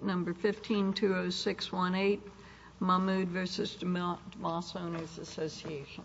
Number 1520618 Mahmood vs. DeMoss Owners Association. Number 1520618 Mahmood vs. DeMoss Owners Association.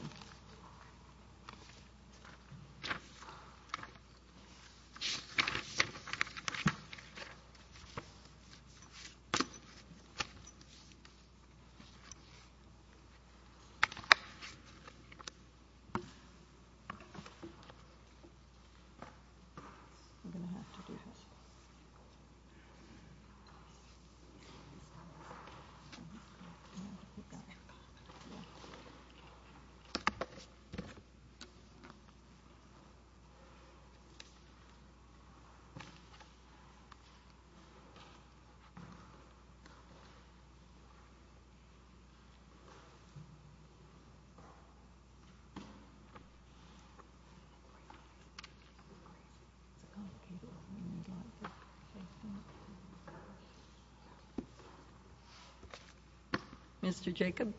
Mr. Jacob.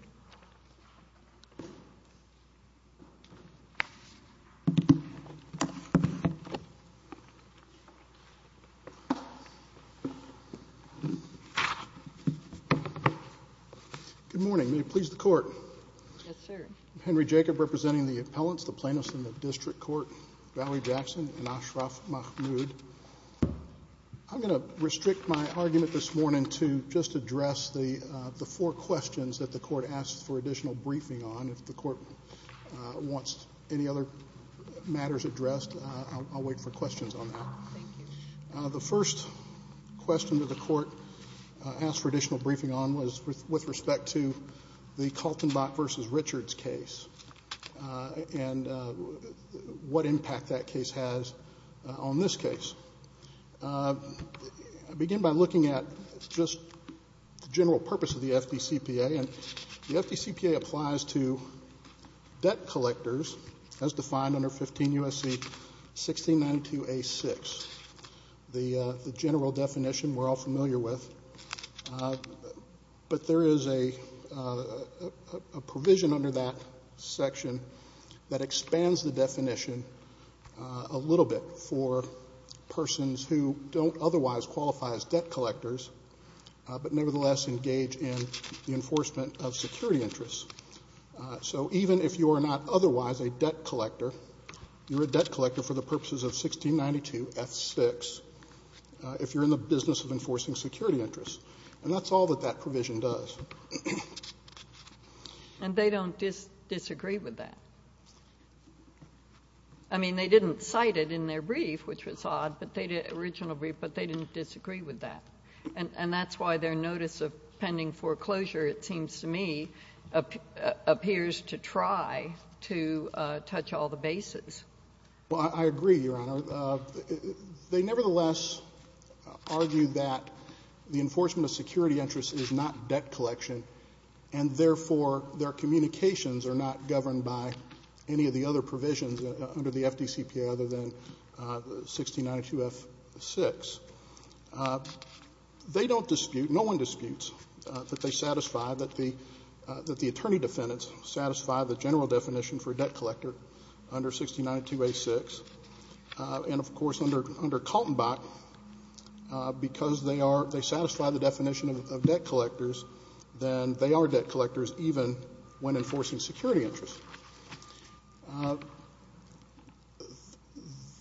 Good morning. May it please the Court. Yes, sir. I'm Henry Jacob, representing the appellants, the plaintiffs in the District Court, Valerie Jackson and Ashraf Mahmood. I'm going to restrict my argument this morning to just address the four questions that the Court asked for additional briefing on. If the Court wants any other matters addressed, I'll wait for questions on that. Thank you. The first question that the Court asked for additional briefing on was with respect to the Kaltenbach vs. Richards case and what impact that case has on this case. I begin by looking at just the general purpose of the FDCPA. And the FDCPA applies to debt collectors as defined under 15 U.S.C. 1692A6, the general definition we're all familiar with. But there is a provision under that section that expands the definition a little bit for persons who don't otherwise qualify as debt collectors but nevertheless engage in the enforcement of security interests. So even if you are not otherwise a debt collector, you're a debt collector for the purposes of 1692F6, if you're in the business of enforcing security interests. And that's all that that provision does. And they don't disagree with that. I mean, they didn't cite it in their brief, which was odd, the original brief, but they didn't disagree with that. And that's why their notice of pending foreclosure, it seems to me, appears to try to touch all the bases. Well, I agree, Your Honor. They nevertheless argue that the enforcement of security interests is not debt collection, and therefore their communications are not governed by any of the other provisions under the FDCPA other than 1692F6. They don't dispute, no one disputes, that they satisfy, that the attorney defendants satisfy the general definition for a debt collector under 1692A6. And, of course, under Kaltenbach, because they are, they satisfy the definition of debt collectors, then they are debt collectors even when enforcing security interests.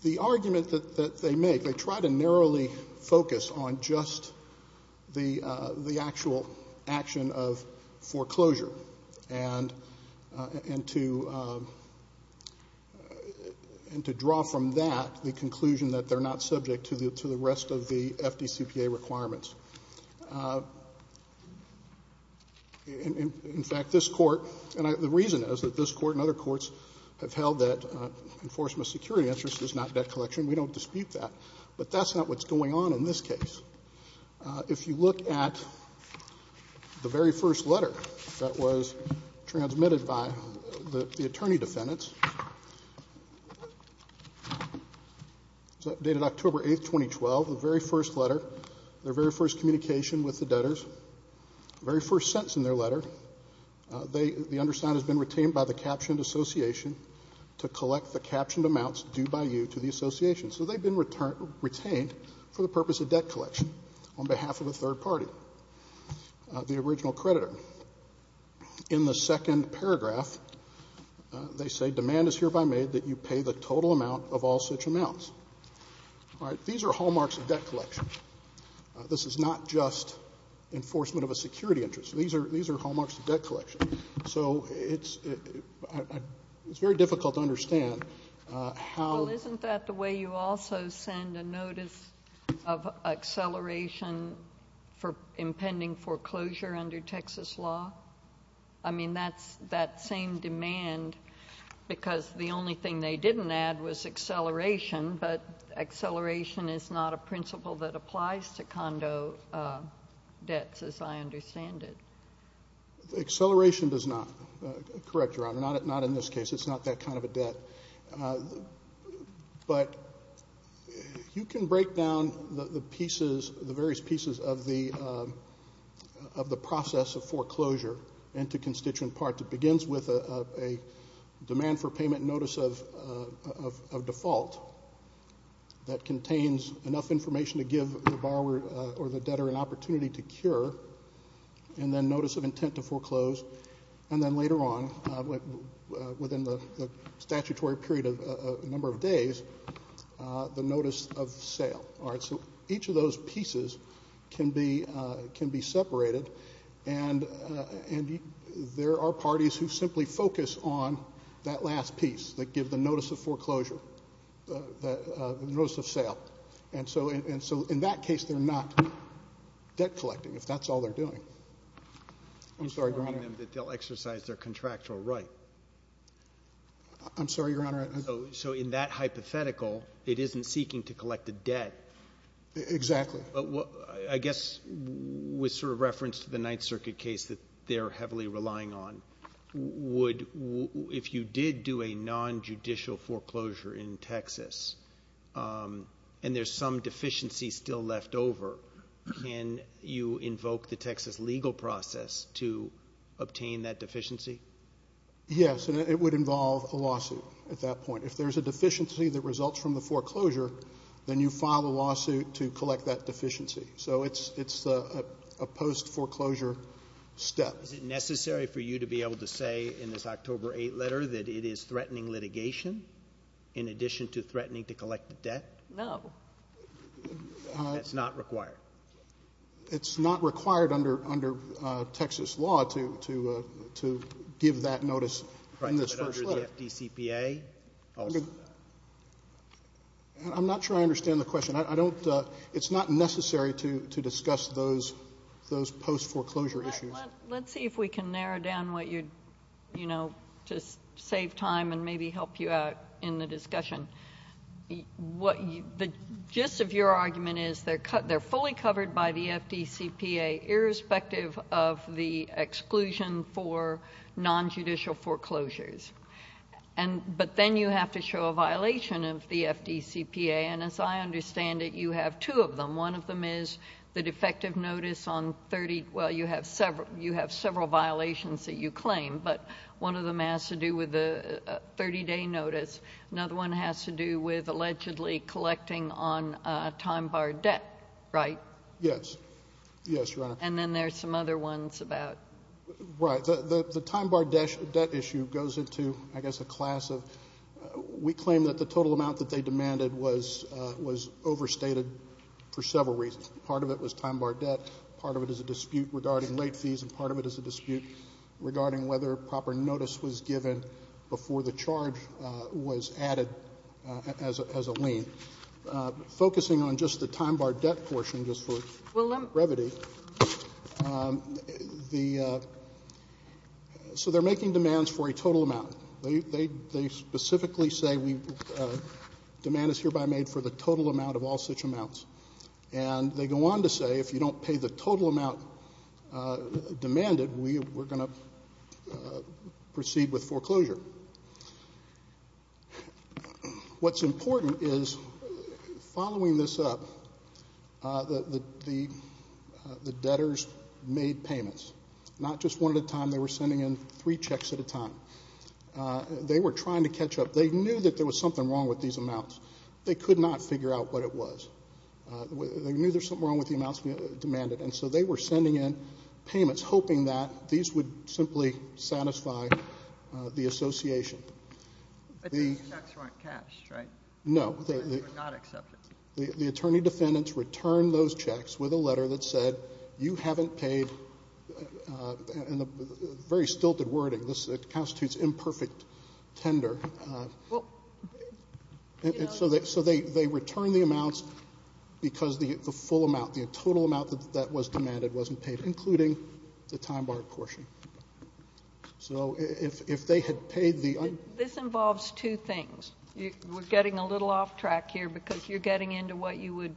The argument that they make, they try to narrowly focus on just the actual action of foreclosure and to draw from that the conclusion that they're not subject to the rest of the FDCPA requirements. In fact, this Court, and the reason is that this Court and other courts have held that enforcement of security interests is not debt collection. We don't dispute that. But that's not what's going on in this case. If you look at the very first letter that was transmitted by the attorney defendants, dated October 8, 2012, the very first letter, their very first communication with the debtors, the very first sentence in their letter, the undersigned has been retained by the captioned association to collect the captioned amounts due by you to the association. So they've been retained for the purpose of debt collection on behalf of a third party, the original creditor. In the second paragraph, they say, Demand is hereby made that you pay the total amount of all such amounts. All right. These are hallmarks of debt collection. This is not just enforcement of a security interest. These are hallmarks of debt collection. So it's very difficult to understand how — Did they also send a notice of acceleration for impending foreclosure under Texas law? I mean, that's that same demand because the only thing they didn't add was acceleration, but acceleration is not a principle that applies to condo debts as I understand it. Acceleration does not. Correct your honor, not in this case. It's not that kind of a debt. But you can break down the pieces, the various pieces of the process of foreclosure into constituent parts. It begins with a demand for payment notice of default that contains enough information to give the borrower or the debtor an opportunity to cure, and then notice of intent to foreclose, and then later on, within the statutory period of a number of days, the notice of sale. All right. So each of those pieces can be separated, and there are parties who simply focus on that last piece that give the notice of foreclosure, the notice of sale. And so in that case, they're not debt collecting, if that's all they're doing. I'm sorry, your honor. They'll exercise their contractual right. I'm sorry, your honor. So in that hypothetical, it isn't seeking to collect a debt. Exactly. I guess with sort of reference to the Ninth Circuit case that they're heavily relying on, if you did do a nonjudicial foreclosure in Texas and there's some deficiency still left over, can you invoke the Texas legal process to obtain that deficiency? Yes, and it would involve a lawsuit at that point. If there's a deficiency that results from the foreclosure, then you file a lawsuit to collect that deficiency. So it's a post-foreclosure step. Is it necessary for you to be able to say in this October 8th letter that it is threatening litigation in addition to threatening to collect the debt? No. That's not required? It's not required under Texas law to give that notice in this first letter. Right, but under the FDCPA? I'm not sure I understand the question. It's not necessary to discuss those post-foreclosure issues. Let's see if we can narrow down what you're, you know, to save time and maybe help you out in the discussion. The gist of your argument is they're fully covered by the FDCPA irrespective of the exclusion for nonjudicial foreclosures. But then you have to show a violation of the FDCPA, and as I understand it, you have two of them. One of them is the defective notice on 30, well, you have several violations that you claim, but one of them has to do with the 30-day notice. Another one has to do with allegedly collecting on time-barred debt, right? Yes. Yes, Your Honor. And then there's some other ones about? Right. The time-barred debt issue goes into, I guess, a class of, we claim that the total amount that they demanded was overstated for several reasons. Part of it was time-barred debt. Part of it is a dispute regarding late fees, and part of it is a dispute regarding whether proper notice was given before the charge was added as a lien. Focusing on just the time-barred debt portion, just for brevity, the so they're making demands for a total amount. They specifically say demand is hereby made for the total amount of all such amounts. And they go on to say if you don't pay the total amount demanded, we're going to proceed with foreclosure. What's important is following this up, the debtors made payments, not just one at a time, they were sending in three checks at a time. They were trying to catch up. They knew that there was something wrong with these amounts. They could not figure out what it was. They knew there was something wrong with the amounts demanded, and so they were sending in payments hoping that these would simply satisfy the association. But these checks weren't cash, right? No. They were not accepted. The attorney defendants returned those checks with a letter that said, you haven't paid, and a very stilted wording. This constitutes imperfect tender. So they returned the amounts because the full amount, the total amount that was demanded wasn't paid, including the time-barred portion. So if they had paid the un- This involves two things. We're getting a little off track here because you're getting into what you would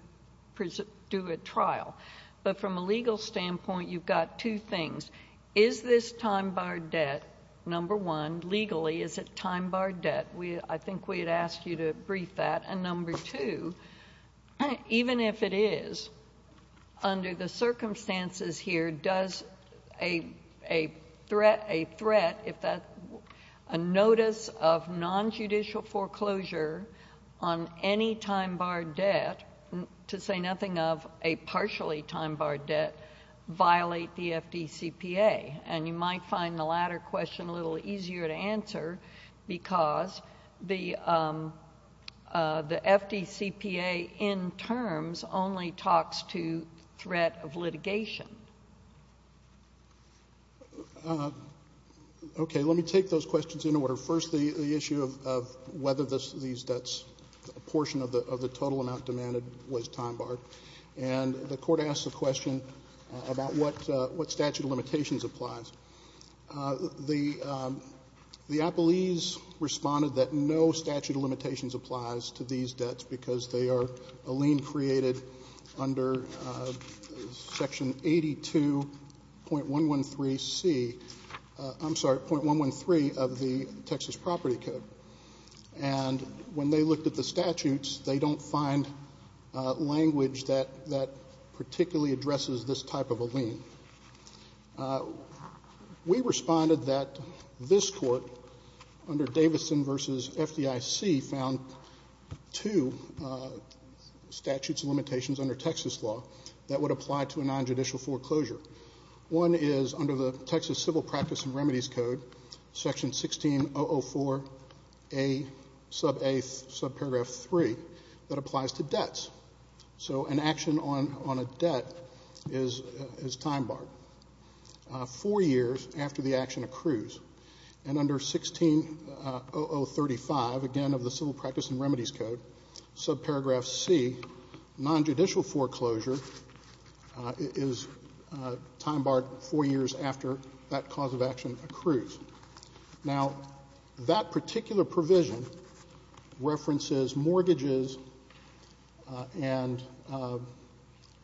do at trial. But from a legal standpoint, you've got two things. Is this time-barred debt, number one, legally, is it time-barred debt? I think we had asked you to brief that. And number two, even if it is, under the circumstances here, does a threat, a notice of nonjudicial foreclosure on any time-barred debt, to say nothing of a partially time-barred debt, violate the FDCPA? And you might find the latter question a little easier to answer because the FDCPA in terms only talks to threat of litigation. Okay. Let me take those questions in order. First, the issue of whether these debts, a portion of the total amount demanded was time-barred. And the Court asked the question about what statute of limitations applies. The appellees responded that no statute of limitations applies to these debts because they are a lien created under Section 82.113C. I'm sorry, .113 of the Texas Property Code. And when they looked at the statutes, they don't find language that particularly addresses this type of a lien. We responded that this Court, under Davidson v. FDIC, found two statutes of limitations under Texas law that would apply to a nonjudicial foreclosure. One is under the Texas Civil Practice and Remedies Code, Section 16.004A sub paragraph 3, that applies to debts. So an action on a debt is time-barred four years after the action accrues. And under 16.0035, again, of the Civil Practice and Remedies Code, sub paragraph C, nonjudicial foreclosure is time-barred four years after that cause of action accrues. Now, that particular provision references mortgages and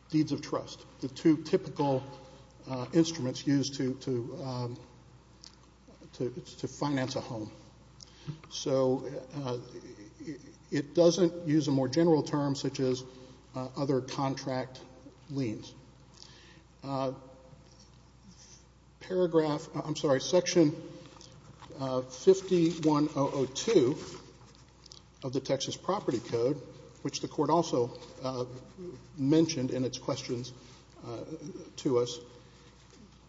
deeds of trust, the two typical instruments used to finance a home. So it doesn't use a more general term such as other contract liens. Paragraph ‑‑ I'm sorry, Section 51002 of the Texas Property Code, which the Court also mentioned in its questions to us,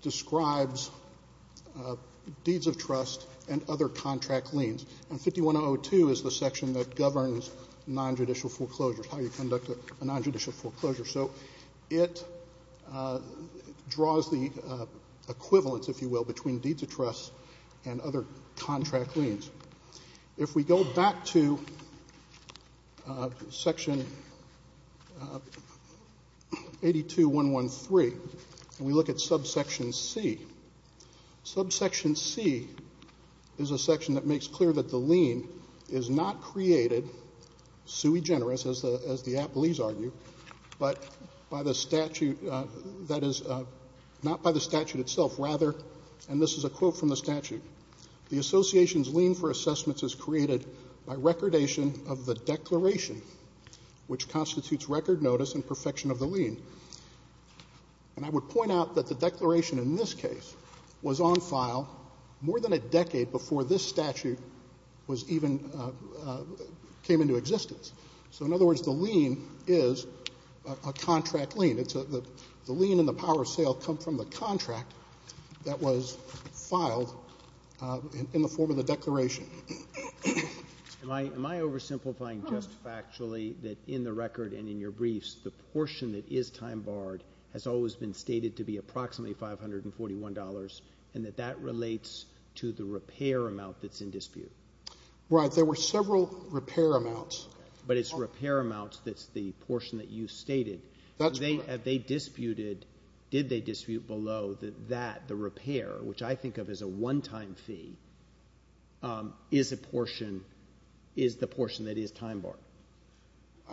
describes deeds of trust and other contract liens. And 51002 is the section that governs nonjudicial foreclosures, how you conduct a nonjudicial foreclosure. So it draws the equivalence, if you will, between deeds of trust and other contract liens. If we go back to Section 82113, and we look at subsection C, subsection C is a section that makes clear that the lien is not created, sui generis, as the appellees argue, but by the statute that is ‑‑ not by the statute itself, rather, and this is a quote from the statute, the association's lien for assessments is created by recordation of the declaration, which constitutes record notice and perfection of the lien. And I would point out that the declaration in this case was on file more than a decade before this statute was even ‑‑ came into existence. So, in other words, the lien is a contract lien. The lien and the power of sale come from the contract that was filed in the form of the declaration. Am I oversimplifying just factually that in the record and in your briefs, the portion that is time barred has always been stated to be approximately $541 and that that relates to the repair amount that's in dispute? Right. There were several repair amounts. But it's repair amounts that's the portion that you stated. That's right. They disputed, did they dispute below that that, the repair, which I think of as a one‑time fee, is a portion, is the portion that is time barred?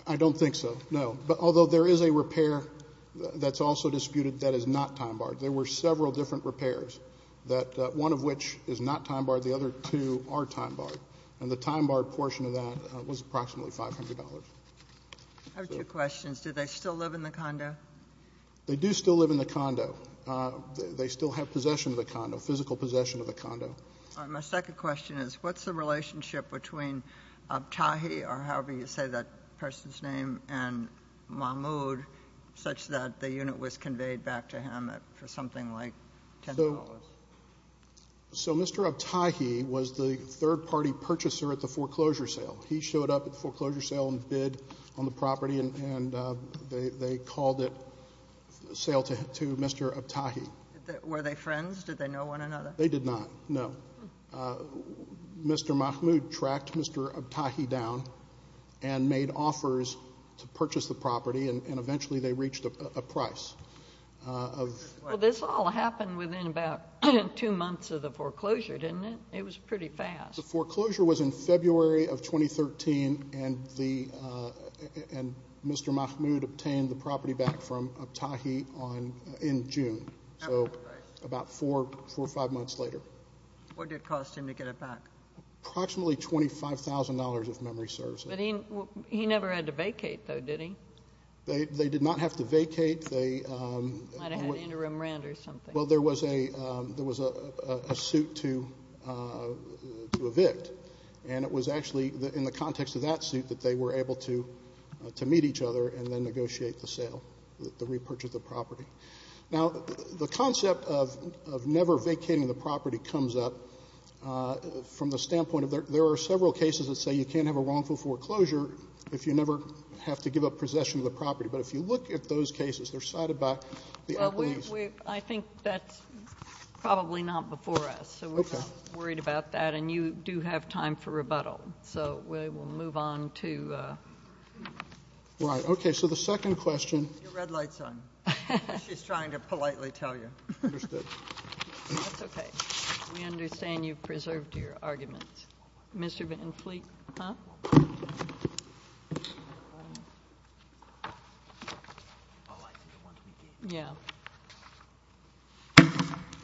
I don't think so, no. But although there is a repair that's also disputed that is not time barred. There were several different repairs that one of which is not time barred, the other two are time barred. And the time barred portion of that was approximately $500. I have two questions. Do they still live in the condo? They do still live in the condo. They still have possession of the condo, physical possession of the condo. My second question is what's the relationship between Abtahi, or however you say that person's name, and Mahmoud, such that the unit was conveyed back to him for something like $10? So Mr. Abtahi was the third‑party purchaser at the foreclosure sale. He showed up at the foreclosure sale and bid on the property, and they called it a sale to Mr. Abtahi. Were they friends? Did they know one another? They did not, no. Mr. Mahmoud tracked Mr. Abtahi down and made offers to purchase the property, and eventually they reached a price. Well, this all happened within about two months of the foreclosure, didn't it? It was pretty fast. The foreclosure was in February of 2013, and Mr. Mahmoud obtained the property back from Abtahi in June, so about four or five months later. What did it cost him to get it back? Approximately $25,000, if memory serves. But he never had to vacate, though, did he? They did not have to vacate. Might have had interim rent or something. Well, there was a suit to evict, and it was actually in the context of that suit that they were able to meet each other and then negotiate the sale, the repurchase of the property. Now, the concept of never vacating the property comes up from the standpoint of there are several cases that say you can't have a wrongful foreclosure if you never have to give up possession of the property. But if you look at those cases, they're cited by the employees. I think that's probably not before us. So we're not worried about that. And you do have time for rebuttal. So we will move on to the second question. Put your red lights on. She's trying to politely tell you. Understood. That's okay. We understand you've preserved your arguments. Mr. Van Fleet?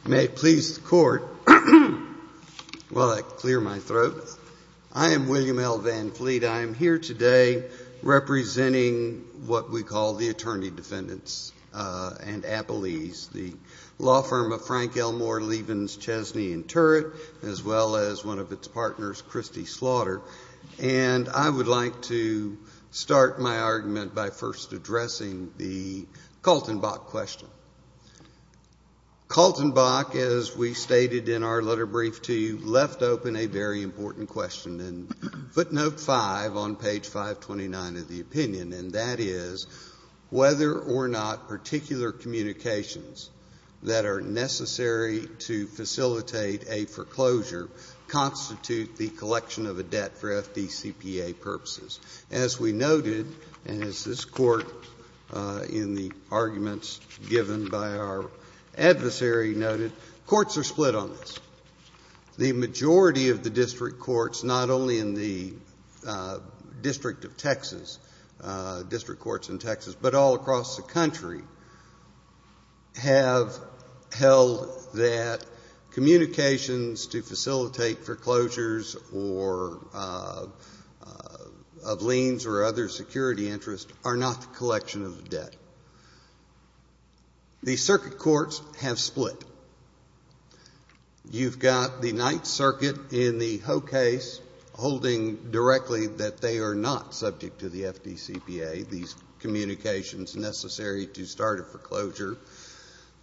May it please the Court, while I clear my throat. I am William L. Van Fleet. I am here today representing what we call the attorney defendants and appellees. The law firm of Frank L. Moore, Lievens, Chesney, and Turrett, as well as one of its partners, Christie Slaughter. And I would like to start my argument by first addressing the Kaltenbach question. Kaltenbach, as we stated in our letter brief to you, left open a very important question. And footnote 5 on page 529 of the opinion, and that is whether or not particular communications that are necessary to facilitate a foreclosure constitute the collection of a debt for FDCPA purposes. As we noted, and as this Court in the arguments given by our adversary noted, courts are split on this. The majority of the district courts, not only in the District of Texas, District Courts in Texas, but all across the country, have held that communications to facilitate foreclosures of liens or other security interest are not the collection of a debt. The circuit courts have split. You've got the Ninth Circuit in the Hoh case holding directly that they are not subject to the FDCPA, these communications necessary to start a foreclosure.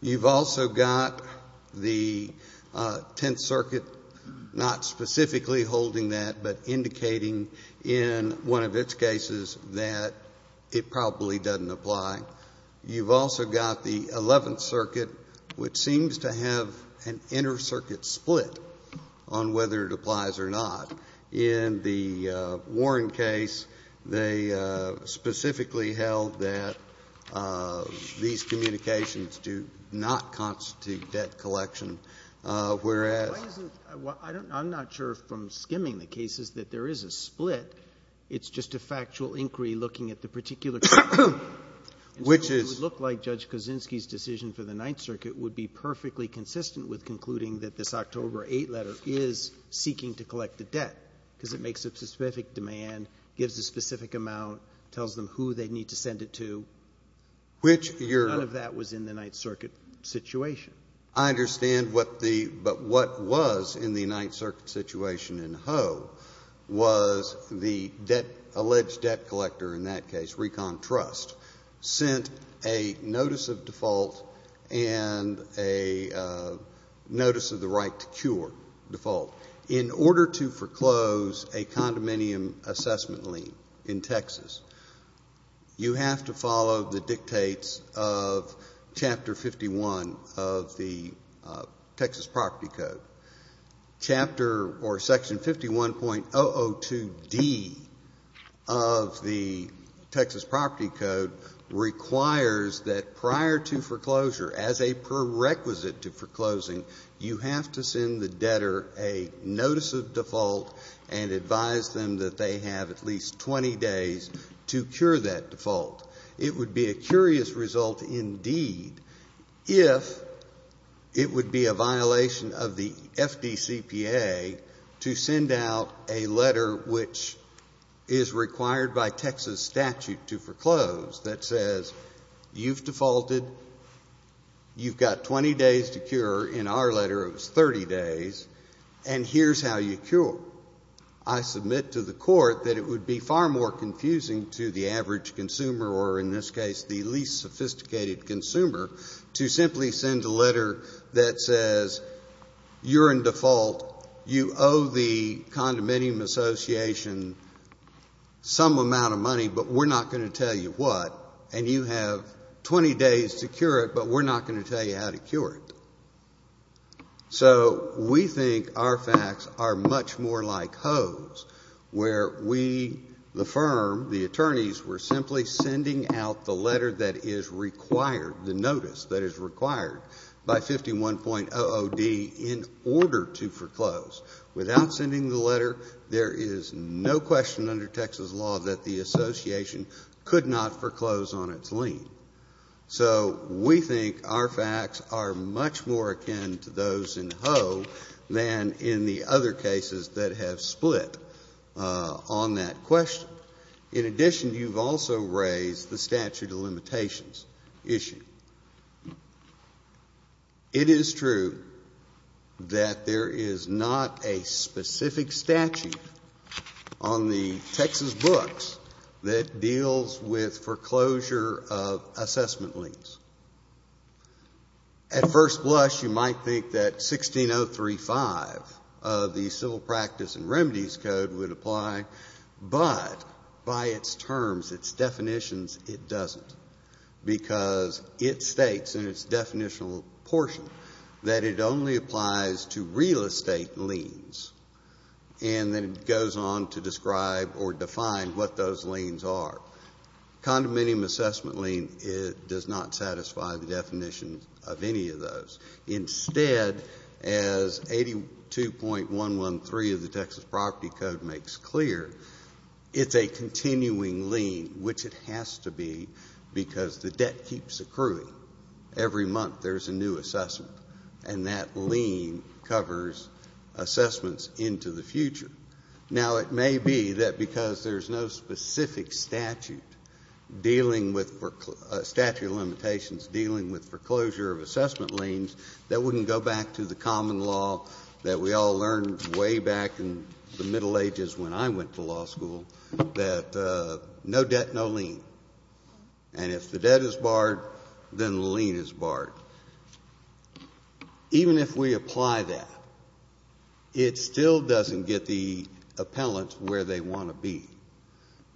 You've also got the Tenth Circuit not specifically holding that, but indicating in one of its cases that it probably doesn't apply. You've also got the Eleventh Circuit, which seems to have an inter-circuit split on whether it applies or not. In the Warren case, they specifically held that these communications do not constitute debt collection, whereas — Why isn't — I'm not sure from skimming the cases that there is a split. It's just a factual inquiry looking at the particular case. Which is — And so it would look like Judge Kaczynski's decision for the Ninth Circuit would be perfectly consistent with concluding that this October 8 letter is seeking to collect the debt because it makes a specific demand, gives a specific amount, tells them who they need to send it to. Which your — None of that was in the Ninth Circuit situation. I understand what the — but what was in the Ninth Circuit situation in Hoh was the alleged debt collector, in that case Recon Trust, sent a notice of default and a notice of the right to cure default. In order to foreclose a condominium assessment lien in Texas, you have to follow the dictates of Chapter 51 of the Texas Property Code. Chapter or Section 51.002D of the Texas Property Code requires that prior to foreclosure, as a prerequisite to foreclosing, you have to send the debtor a notice of default and advise them that they have at least 20 days to cure that default. It would be a curious result indeed if it would be a violation of the FDCPA to send out a letter which is required by Texas statute to foreclose that says, you've defaulted, you've got 20 days to cure, in our letter it was 30 days, and here's how you cure. I submit to the court that it would be far more confusing to the average consumer, or in this case the least sophisticated consumer, to simply send a letter that says you're in default, you owe the condominium association some amount of money, but we're not going to tell you what, and you have 20 days to cure it, but we're not going to tell you how to cure it. So we think our facts are much more like Ho's, where we, the firm, the attorneys, were simply sending out the letter that is required, the notice that is required by 51.00D in order to foreclose. Without sending the letter, there is no question under Texas law that the association could not foreclose on its lien. So we think our facts are much more akin to those in Ho than in the other cases that have split on that question. In addition, you've also raised the statute of limitations issue. It is true that there is not a specific statute on the Texas books that deals with foreclosure of assessment liens. At first blush, you might think that 16.035 of the Civil Practice and Remedies Code would apply, but by its terms, its definitions, it doesn't, because it states in its definitional portion that it only applies to real estate liens, and then it goes on to describe or define what those liens are. Condominium assessment lien does not satisfy the definition of any of those. Instead, as 82.113 of the Texas Property Code makes clear, it's a continuing lien, which it has to be because the debt keeps accruing. Every month, there's a new assessment, and that lien covers assessments into the future. Now, it may be that because there's no specific statute dealing with statute of limitations dealing with foreclosure of assessment liens, that we can go back to the common law that we all learned way back in the Middle Ages when I went to law school, that no debt, no lien. And if the debt is barred, then the lien is barred. Even if we apply that, it still doesn't get the appellant where they want to be,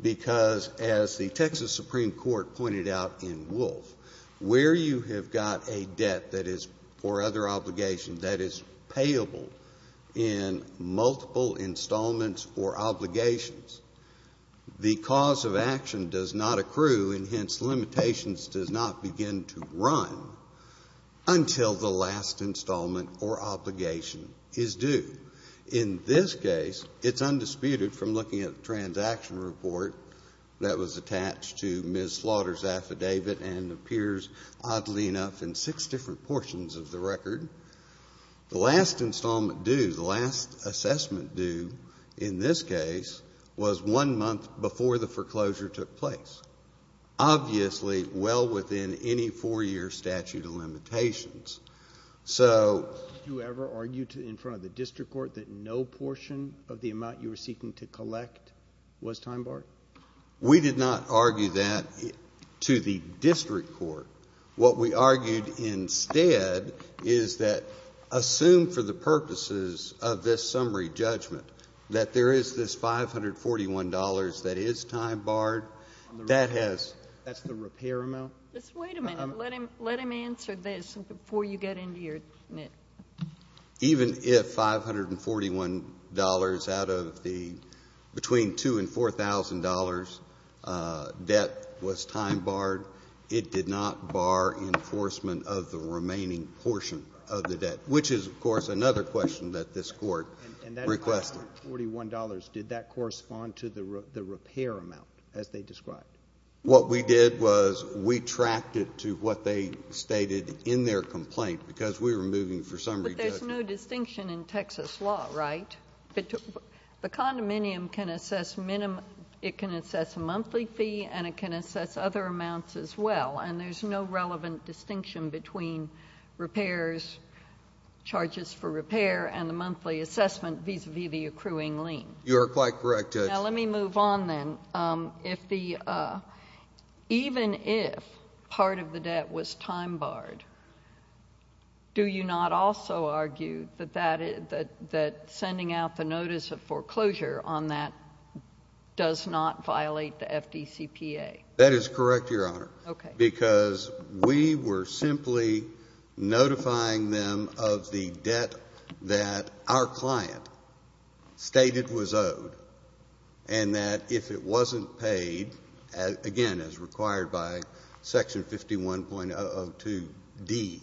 because as the Texas Supreme Court pointed out in Wolf, where you have got a debt that is for other obligations that is payable in multiple installments or obligations, the cause of action does not accrue, and hence, limitations does not begin to run until the last installment or obligation is due. In this case, it's undisputed from looking at the transaction report that was attached to Ms. Slaughter's affidavit and appears, oddly enough, in six different portions of the record. The last installment due, the last assessment due in this case, was one month before the foreclosure took place. Obviously, well within any four-year statute of limitations. So... Did you ever argue in front of the district court that no portion of the amount you were seeking to collect was time-barred? We did not argue that to the district court. What we argued instead is that, assumed for the purposes of this summary judgment, that there is this $541 that is time-barred, that has... That's the repair amount? Just wait a minute. Let him answer this before you get into your... Even if $541 out of the... Between $2,000 and $4,000 debt was time-barred, it did not bar enforcement of the remaining portion of the debt, which is, of course, another question that this court requested. And that $541, did that correspond to the repair amount, as they described? What we did was we tracked it to what they stated in their complaint, because we were moving for summary judgment. But there's no distinction in Texas law, right? The condominium can assess minimum... It can assess a monthly fee, and it can assess other amounts as well, and there's no relevant distinction between repairs, charges for repair, and the monthly assessment vis-à-vis the accruing lien. You are quite correct, Judge. Now, let me move on then. Even if part of the debt was time-barred, do you not also argue that sending out the notice of foreclosure on that does not violate the FDCPA? That is correct, Your Honor, because we were simply notifying them of the debt that our client stated was owed, and that if it wasn't paid, again, as required by Section 51.002D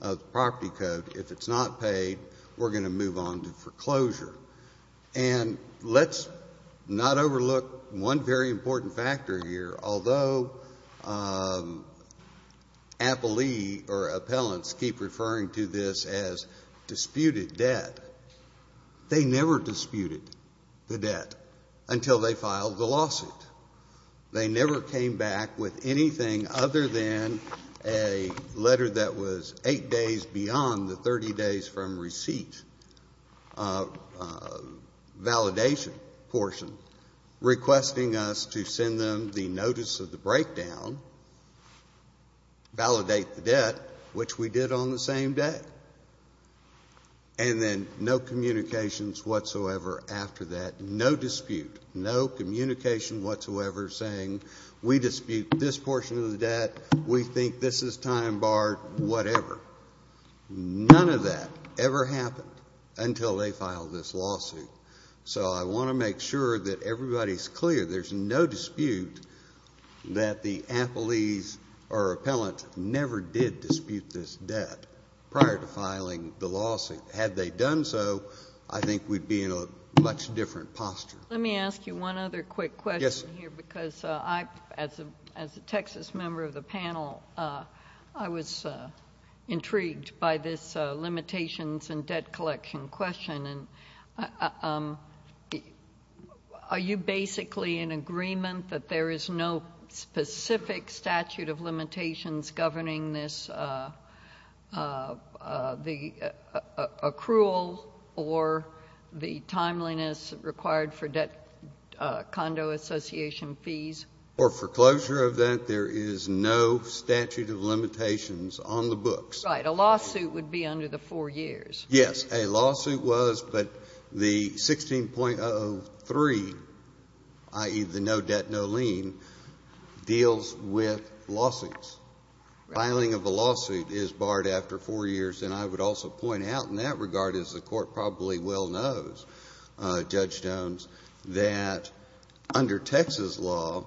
of the Property Code, if it's not paid, we're going to move on to foreclosure. And let's not overlook one very important factor here. Although appellees or appellants keep referring to this as disputed debt, they never disputed the debt until they filed the lawsuit. They never came back with anything other than a letter that was eight days beyond the 30 days from receipt validation portion requesting us to send them the notice of the breakdown, validate the debt, which we did on the same day, and then no communications whatsoever after that, no dispute, no communication whatsoever saying we dispute this portion of the debt, we think this is time-barred, whatever. None of that ever happened until they filed this lawsuit. So I want to make sure that everybody's clear there's no dispute that the appellees or appellant never did dispute this debt prior to filing the lawsuit. Had they done so, I think we'd be in a much different posture. Let me ask you one other quick question here because I, as a Texas member of the panel, I was intrigued by this limitations and debt collection question. And are you basically in agreement that there is no specific statute of limitations governing this, the accrual or the timeliness required for debt condo association fees? For foreclosure of that, there is no statute of limitations on the books. Right. A lawsuit would be under the four years. Yes. A lawsuit was, but the 16.03, i.e., the no debt, no lien, deals with lawsuits. Filing of a lawsuit is barred after four years. And I would also point out in that regard, as the Court probably well knows, Judge Jones, that under Texas law,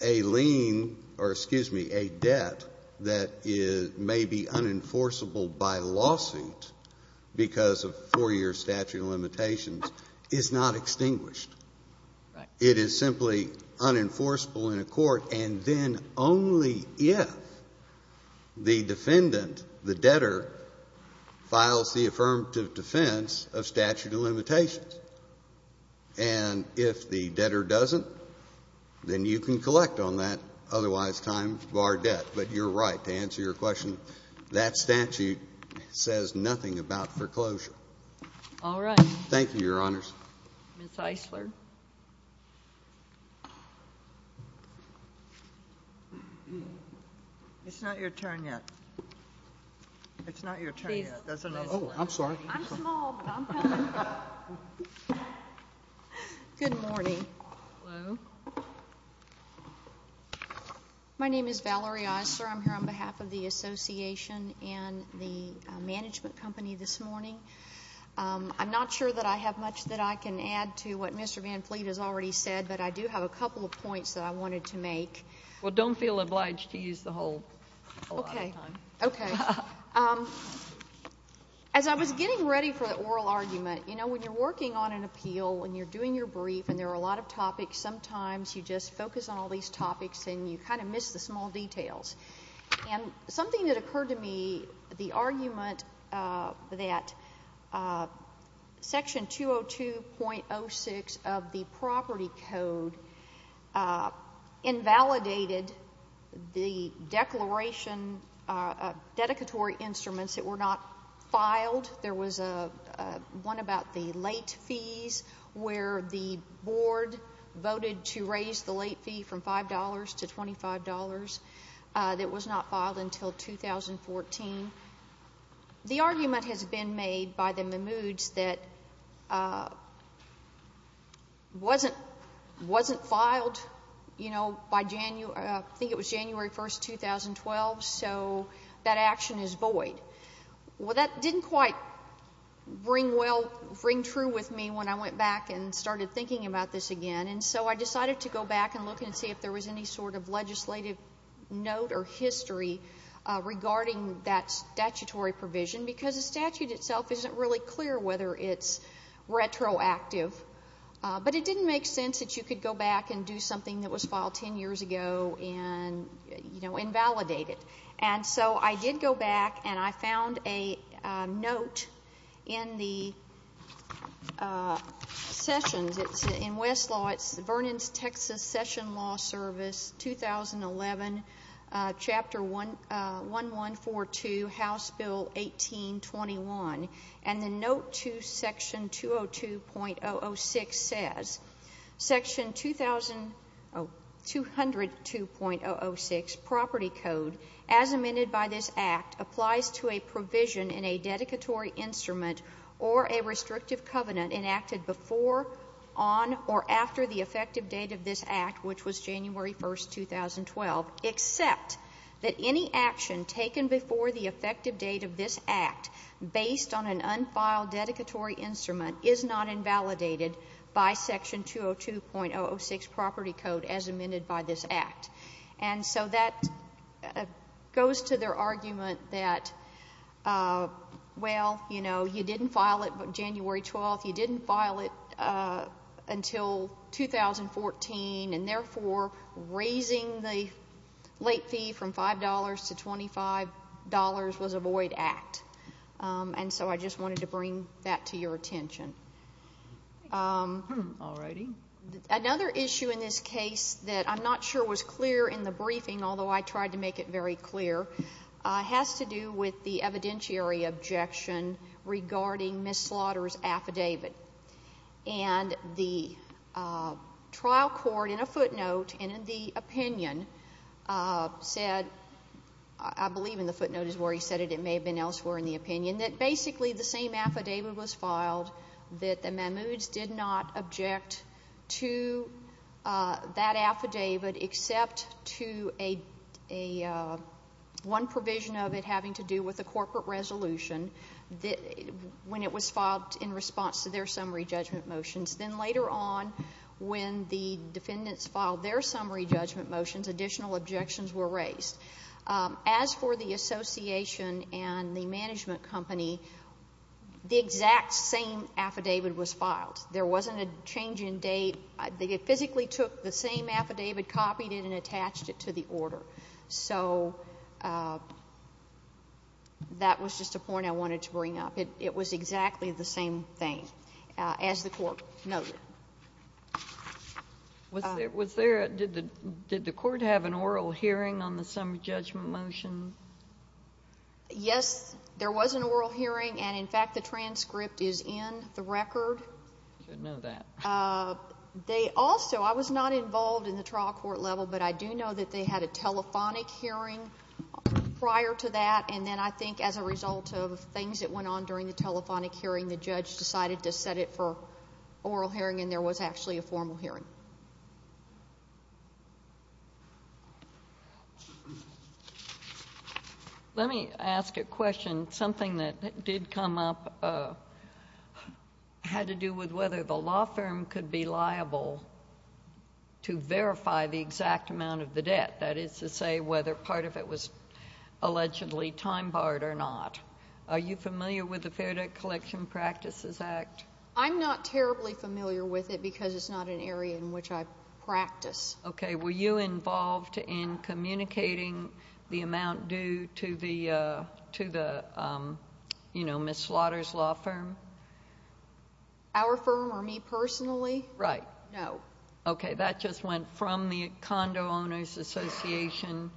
a lien or, excuse me, a debt that may be unenforceable by lawsuit because of four-year statute of limitations is not extinguished. Right. It is simply unenforceable in a court, and then only if the defendant, the debtor, files the affirmative defense of statute of limitations. And if the debtor doesn't, then you can collect on that, otherwise time barred debt. But you're right. To answer your question, that statute says nothing about foreclosure. All right. Thank you, Your Honors. Ms. Eisler. It's not your turn yet. It's not your turn yet. Oh, I'm sorry. I'm small, but I'm coming. Good morning. Hello. My name is Valerie Eisler. I'm here on behalf of the Association and the management company this morning. I'm not sure that I have much that I can add to what Mr. Van Fleet has already said, but I do have a couple of points that I wanted to make. Well, don't feel obliged to use the whole lot of time. Okay. Okay. As I was getting ready for the oral argument, you know, when you're working on an appeal and you're doing your brief and there are a lot of topics, sometimes you just focus on all these topics and you kind of miss the small details. And something that occurred to me, the argument that Section 202.06 of the Property Code invalidated the declaration of dedicatory instruments that were not filed. There was one about the late fees where the board voted to raise the late fee from $5 to $25. That was not filed until 2014. The argument has been made by the Mimouds that wasn't filed, you know, by January, I think it was January 1st, 2012. So that action is void. Well, that didn't quite bring true with me when I went back and started thinking about this again. And so I decided to go back and look and see if there was any sort of legislative note or history regarding that statutory provision because the statute itself isn't really clear whether it's retroactive. But it didn't make sense that you could go back and do something that was filed 10 years ago and, you know, invalidate it. And so I did go back and I found a note in the sessions. It's in Westlaw. It's Vernon's Texas Session Law Service, 2011, Chapter 1142, House Bill 1821. And the note to Section 202.006 says, Section 2002.006, Property Code, as amended by this Act, applies to a provision in a dedicatory instrument or a restrictive covenant enacted before, on, or after the effective date of this Act, which was January 1st, 2012, except that any action taken before the effective date of this Act based on an unfiled dedicatory instrument is not invalidated by Section 202.006, Property Code, as amended by this Act. And so that goes to their argument that, well, you know, you didn't file it January 12th. You didn't file it until 2014. And therefore, raising the late fee from $5 to $25 was a void Act. And so I just wanted to bring that to your attention. All righty. Another issue in this case that I'm not sure was clear in the briefing, although I tried to make it very clear, has to do with the evidentiary objection regarding Ms. Slaughter's affidavit. And the trial court, in a footnote and in the opinion, said, I believe in the footnote is where he said it. It may have been elsewhere in the opinion, that basically the same affidavit was filed, that the Mahmouds did not object to that when it was filed in response to their summary judgment motions. Then later on, when the defendants filed their summary judgment motions, additional objections were raised. As for the association and the management company, the exact same affidavit was filed. There wasn't a change in date. They physically took the same affidavit, copied it, and attached it to the order. So that was just a point I wanted to bring up. It was exactly the same thing, as the court noted. Did the court have an oral hearing on the summary judgment motion? Yes, there was an oral hearing. And, in fact, the transcript is in the record. I should know that. They also, I was not involved in the trial court level, but I do know that they had a telephonic hearing prior to that, and then I think as a result of things that went on during the telephonic hearing, the judge decided to set it for oral hearing, and there was actually a formal hearing. Let me ask a question. Something that did come up had to do with whether the law firm could be liable to verify the exact amount of the debt, that is to say whether part of it was allegedly time-barred or not. Are you familiar with the Fair Debt Collection Practices Act? I'm not terribly familiar with it because it's not an area in which I practice. Okay. Were you involved in communicating the amount due to the, you know, Ms. Slaughter's law firm? Our firm or me personally? Right. No. Okay. That just went from the Condo Owners Association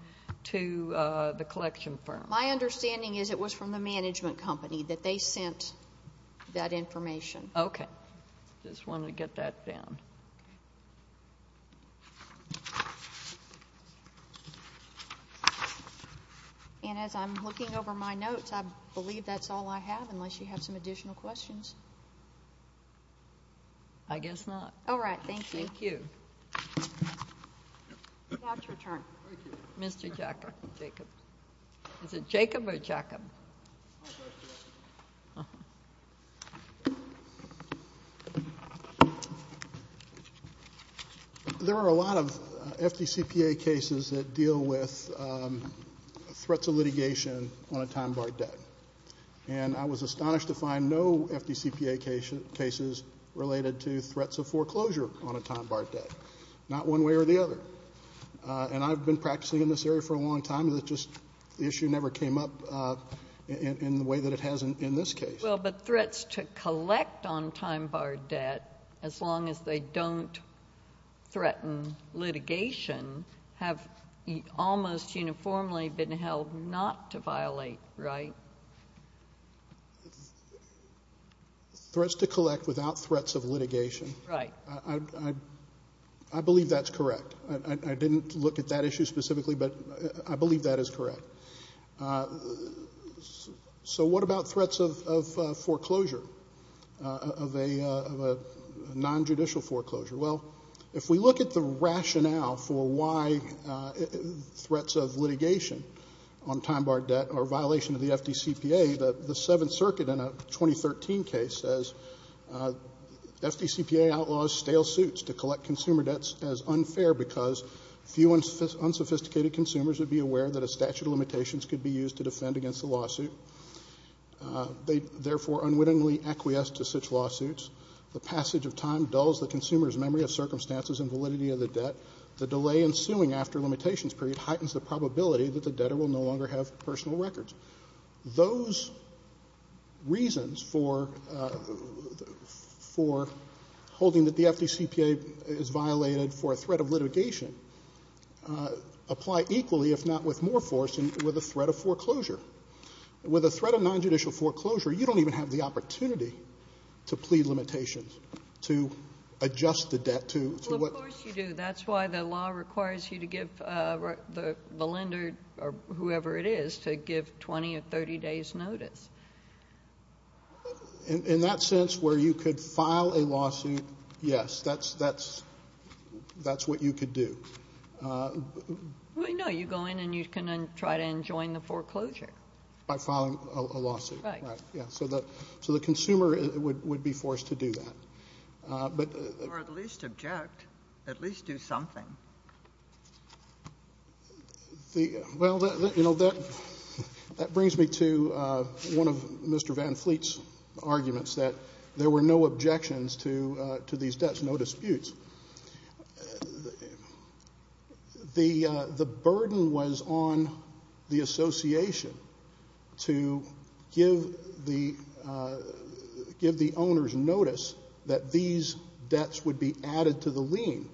to the collection firm. My understanding is it was from the management company that they sent that information. Okay. Just wanted to get that down. And as I'm looking over my notes, I believe that's all I have unless you have some additional questions. I guess not. All right. Thank you. Thank you. It's your turn. Thank you. Mr. Jacob. Is it Jacob or Jacob? My first question. There are a lot of FDCPA cases that deal with threats of litigation on a time-barred debt, and I was astonished to find no FDCPA cases related to threats of foreclosure on a time-barred debt, not one way or the other. And I've been practicing in this area for a long time. It's just the issue never came up in the way that it has in this case. Well, but threats to collect on time-barred debt, as long as they don't threaten litigation, have almost uniformly been held not to violate, right? Threats to collect without threats of litigation. Right. I believe that's correct. I didn't look at that issue specifically, but I believe that is correct. So what about threats of foreclosure, of a nonjudicial foreclosure? Well, if we look at the rationale for why threats of litigation on time-barred debt are a violation of the FDCPA, the Seventh Circuit in a 2013 case says, FDCPA outlaws stale suits to collect consumer debts as unfair because few unsophisticated consumers would be aware that a statute of limitations could be used to defend against the lawsuit. They therefore unwittingly acquiesce to such lawsuits. The passage of time dulls the consumer's memory of circumstances and validity of the debt. The delay ensuing after a limitations period heightens the probability that the debtor will no longer have personal records. Those reasons for holding that the FDCPA is violated for a threat of litigation apply equally, if not with more force, than with a threat of foreclosure. With a threat of nonjudicial foreclosure, you don't even have the opportunity to plead limitations, to adjust the debt to what. Well, of course you do. That's why the law requires you to give the lender or whoever it is to give 20 or 30 days' notice. In that sense, where you could file a lawsuit, yes, that's what you could do. No, you go in and you can try to enjoin the foreclosure. By filing a lawsuit. Right. Yeah, so the consumer would be forced to do that. Or at least object, at least do something. Well, you know, that brings me to one of Mr. Van Fleet's arguments, that there were no objections to these debts, no disputes. The burden was on the association to give the owners notice that these debts would be added to the lien,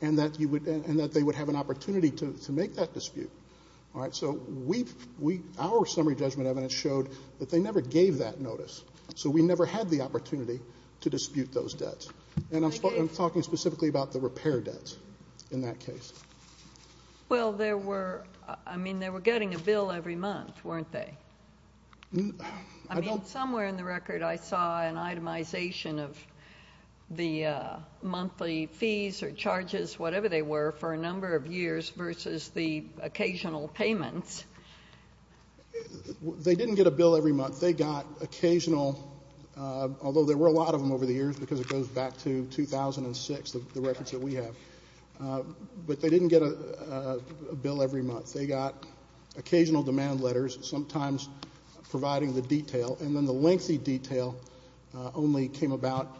and that they would have an opportunity to make that dispute. So our summary judgment evidence showed that they never gave that notice. So we never had the opportunity to dispute those debts. And I'm talking specifically about the repair debts in that case. Well, there were, I mean, they were getting a bill every month, weren't they? I mean, somewhere in the record I saw an itemization of the monthly fees or charges, whatever they were, for a number of years versus the occasional payments. They didn't get a bill every month. They got occasional, although there were a lot of them over the years because it goes back to 2006, the records that we have, but they didn't get a bill every month. They got occasional demand letters, sometimes providing the detail, and then the lengthy detail only came about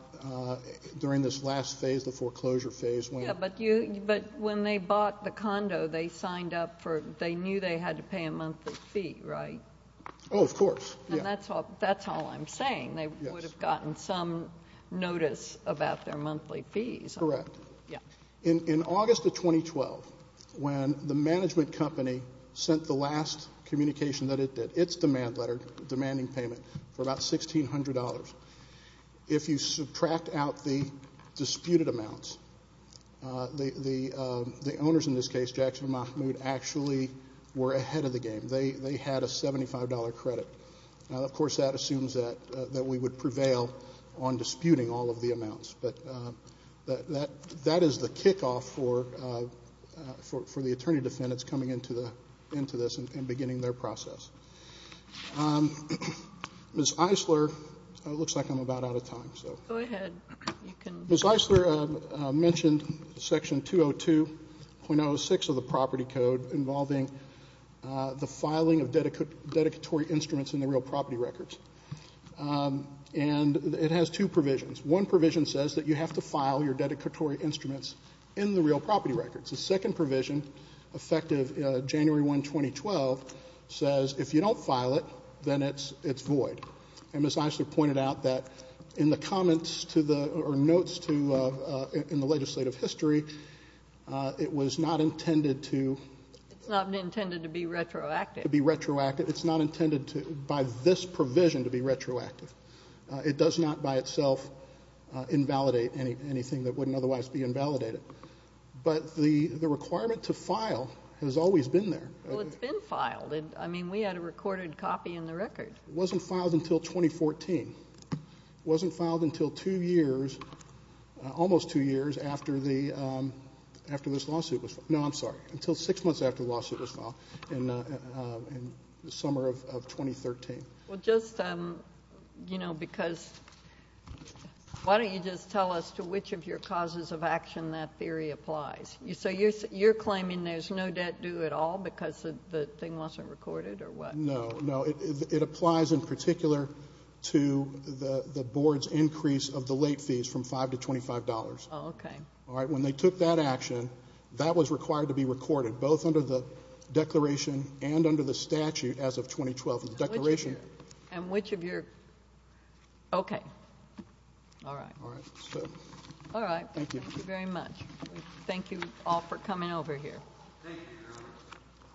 during this last phase, the foreclosure phase. Yeah, but when they bought the condo, they signed up for it. They knew they had to pay a monthly fee, right? Oh, of course. And that's all I'm saying. They would have gotten some notice about their monthly fees. Correct. Yeah. In August of 2012, when the management company sent the last communication that it did, its demand letter, demanding payment for about $1,600, if you subtract out the disputed amounts, the owners in this case, Jackson and Mahmoud, actually were ahead of the game. They had a $75 credit. Now, of course, that assumes that we would prevail on disputing all of the amounts, but that is the kickoff for the attorney defendants coming into this and beginning their process. Ms. Eisler, it looks like I'm about out of time. Go ahead. Ms. Eisler mentioned Section 202.06 of the property code involving the filing of dedicatory instruments in the real property records. And it has two provisions. One provision says that you have to file your dedicatory instruments in the real property records. The second provision, effective January 1, 2012, says if you don't file it, then it's void. Ms. Eisler pointed out that in the comments or notes in the legislative history, it was not intended to be retroactive. It's not intended by this provision to be retroactive. It does not by itself invalidate anything that wouldn't otherwise be invalidated. But the requirement to file has always been there. Well, it's been filed. I mean, we had a recorded copy in the record. It wasn't filed until 2014. It wasn't filed until two years, almost two years after this lawsuit was filed. No, I'm sorry, until six months after the lawsuit was filed in the summer of 2013. Well, just, you know, because why don't you just tell us to which of your causes of action that theory applies? So you're claiming there's no debt due at all because the thing wasn't recorded or what? No, no. It applies in particular to the board's increase of the late fees from $5 to $25. Oh, okay. All right. When they took that action, that was required to be recorded, both under the declaration and under the statute as of 2012. And which of your, okay. All right. All right. All right. Thank you. Thank you very much. Thank you all for coming over here. Thank you very much.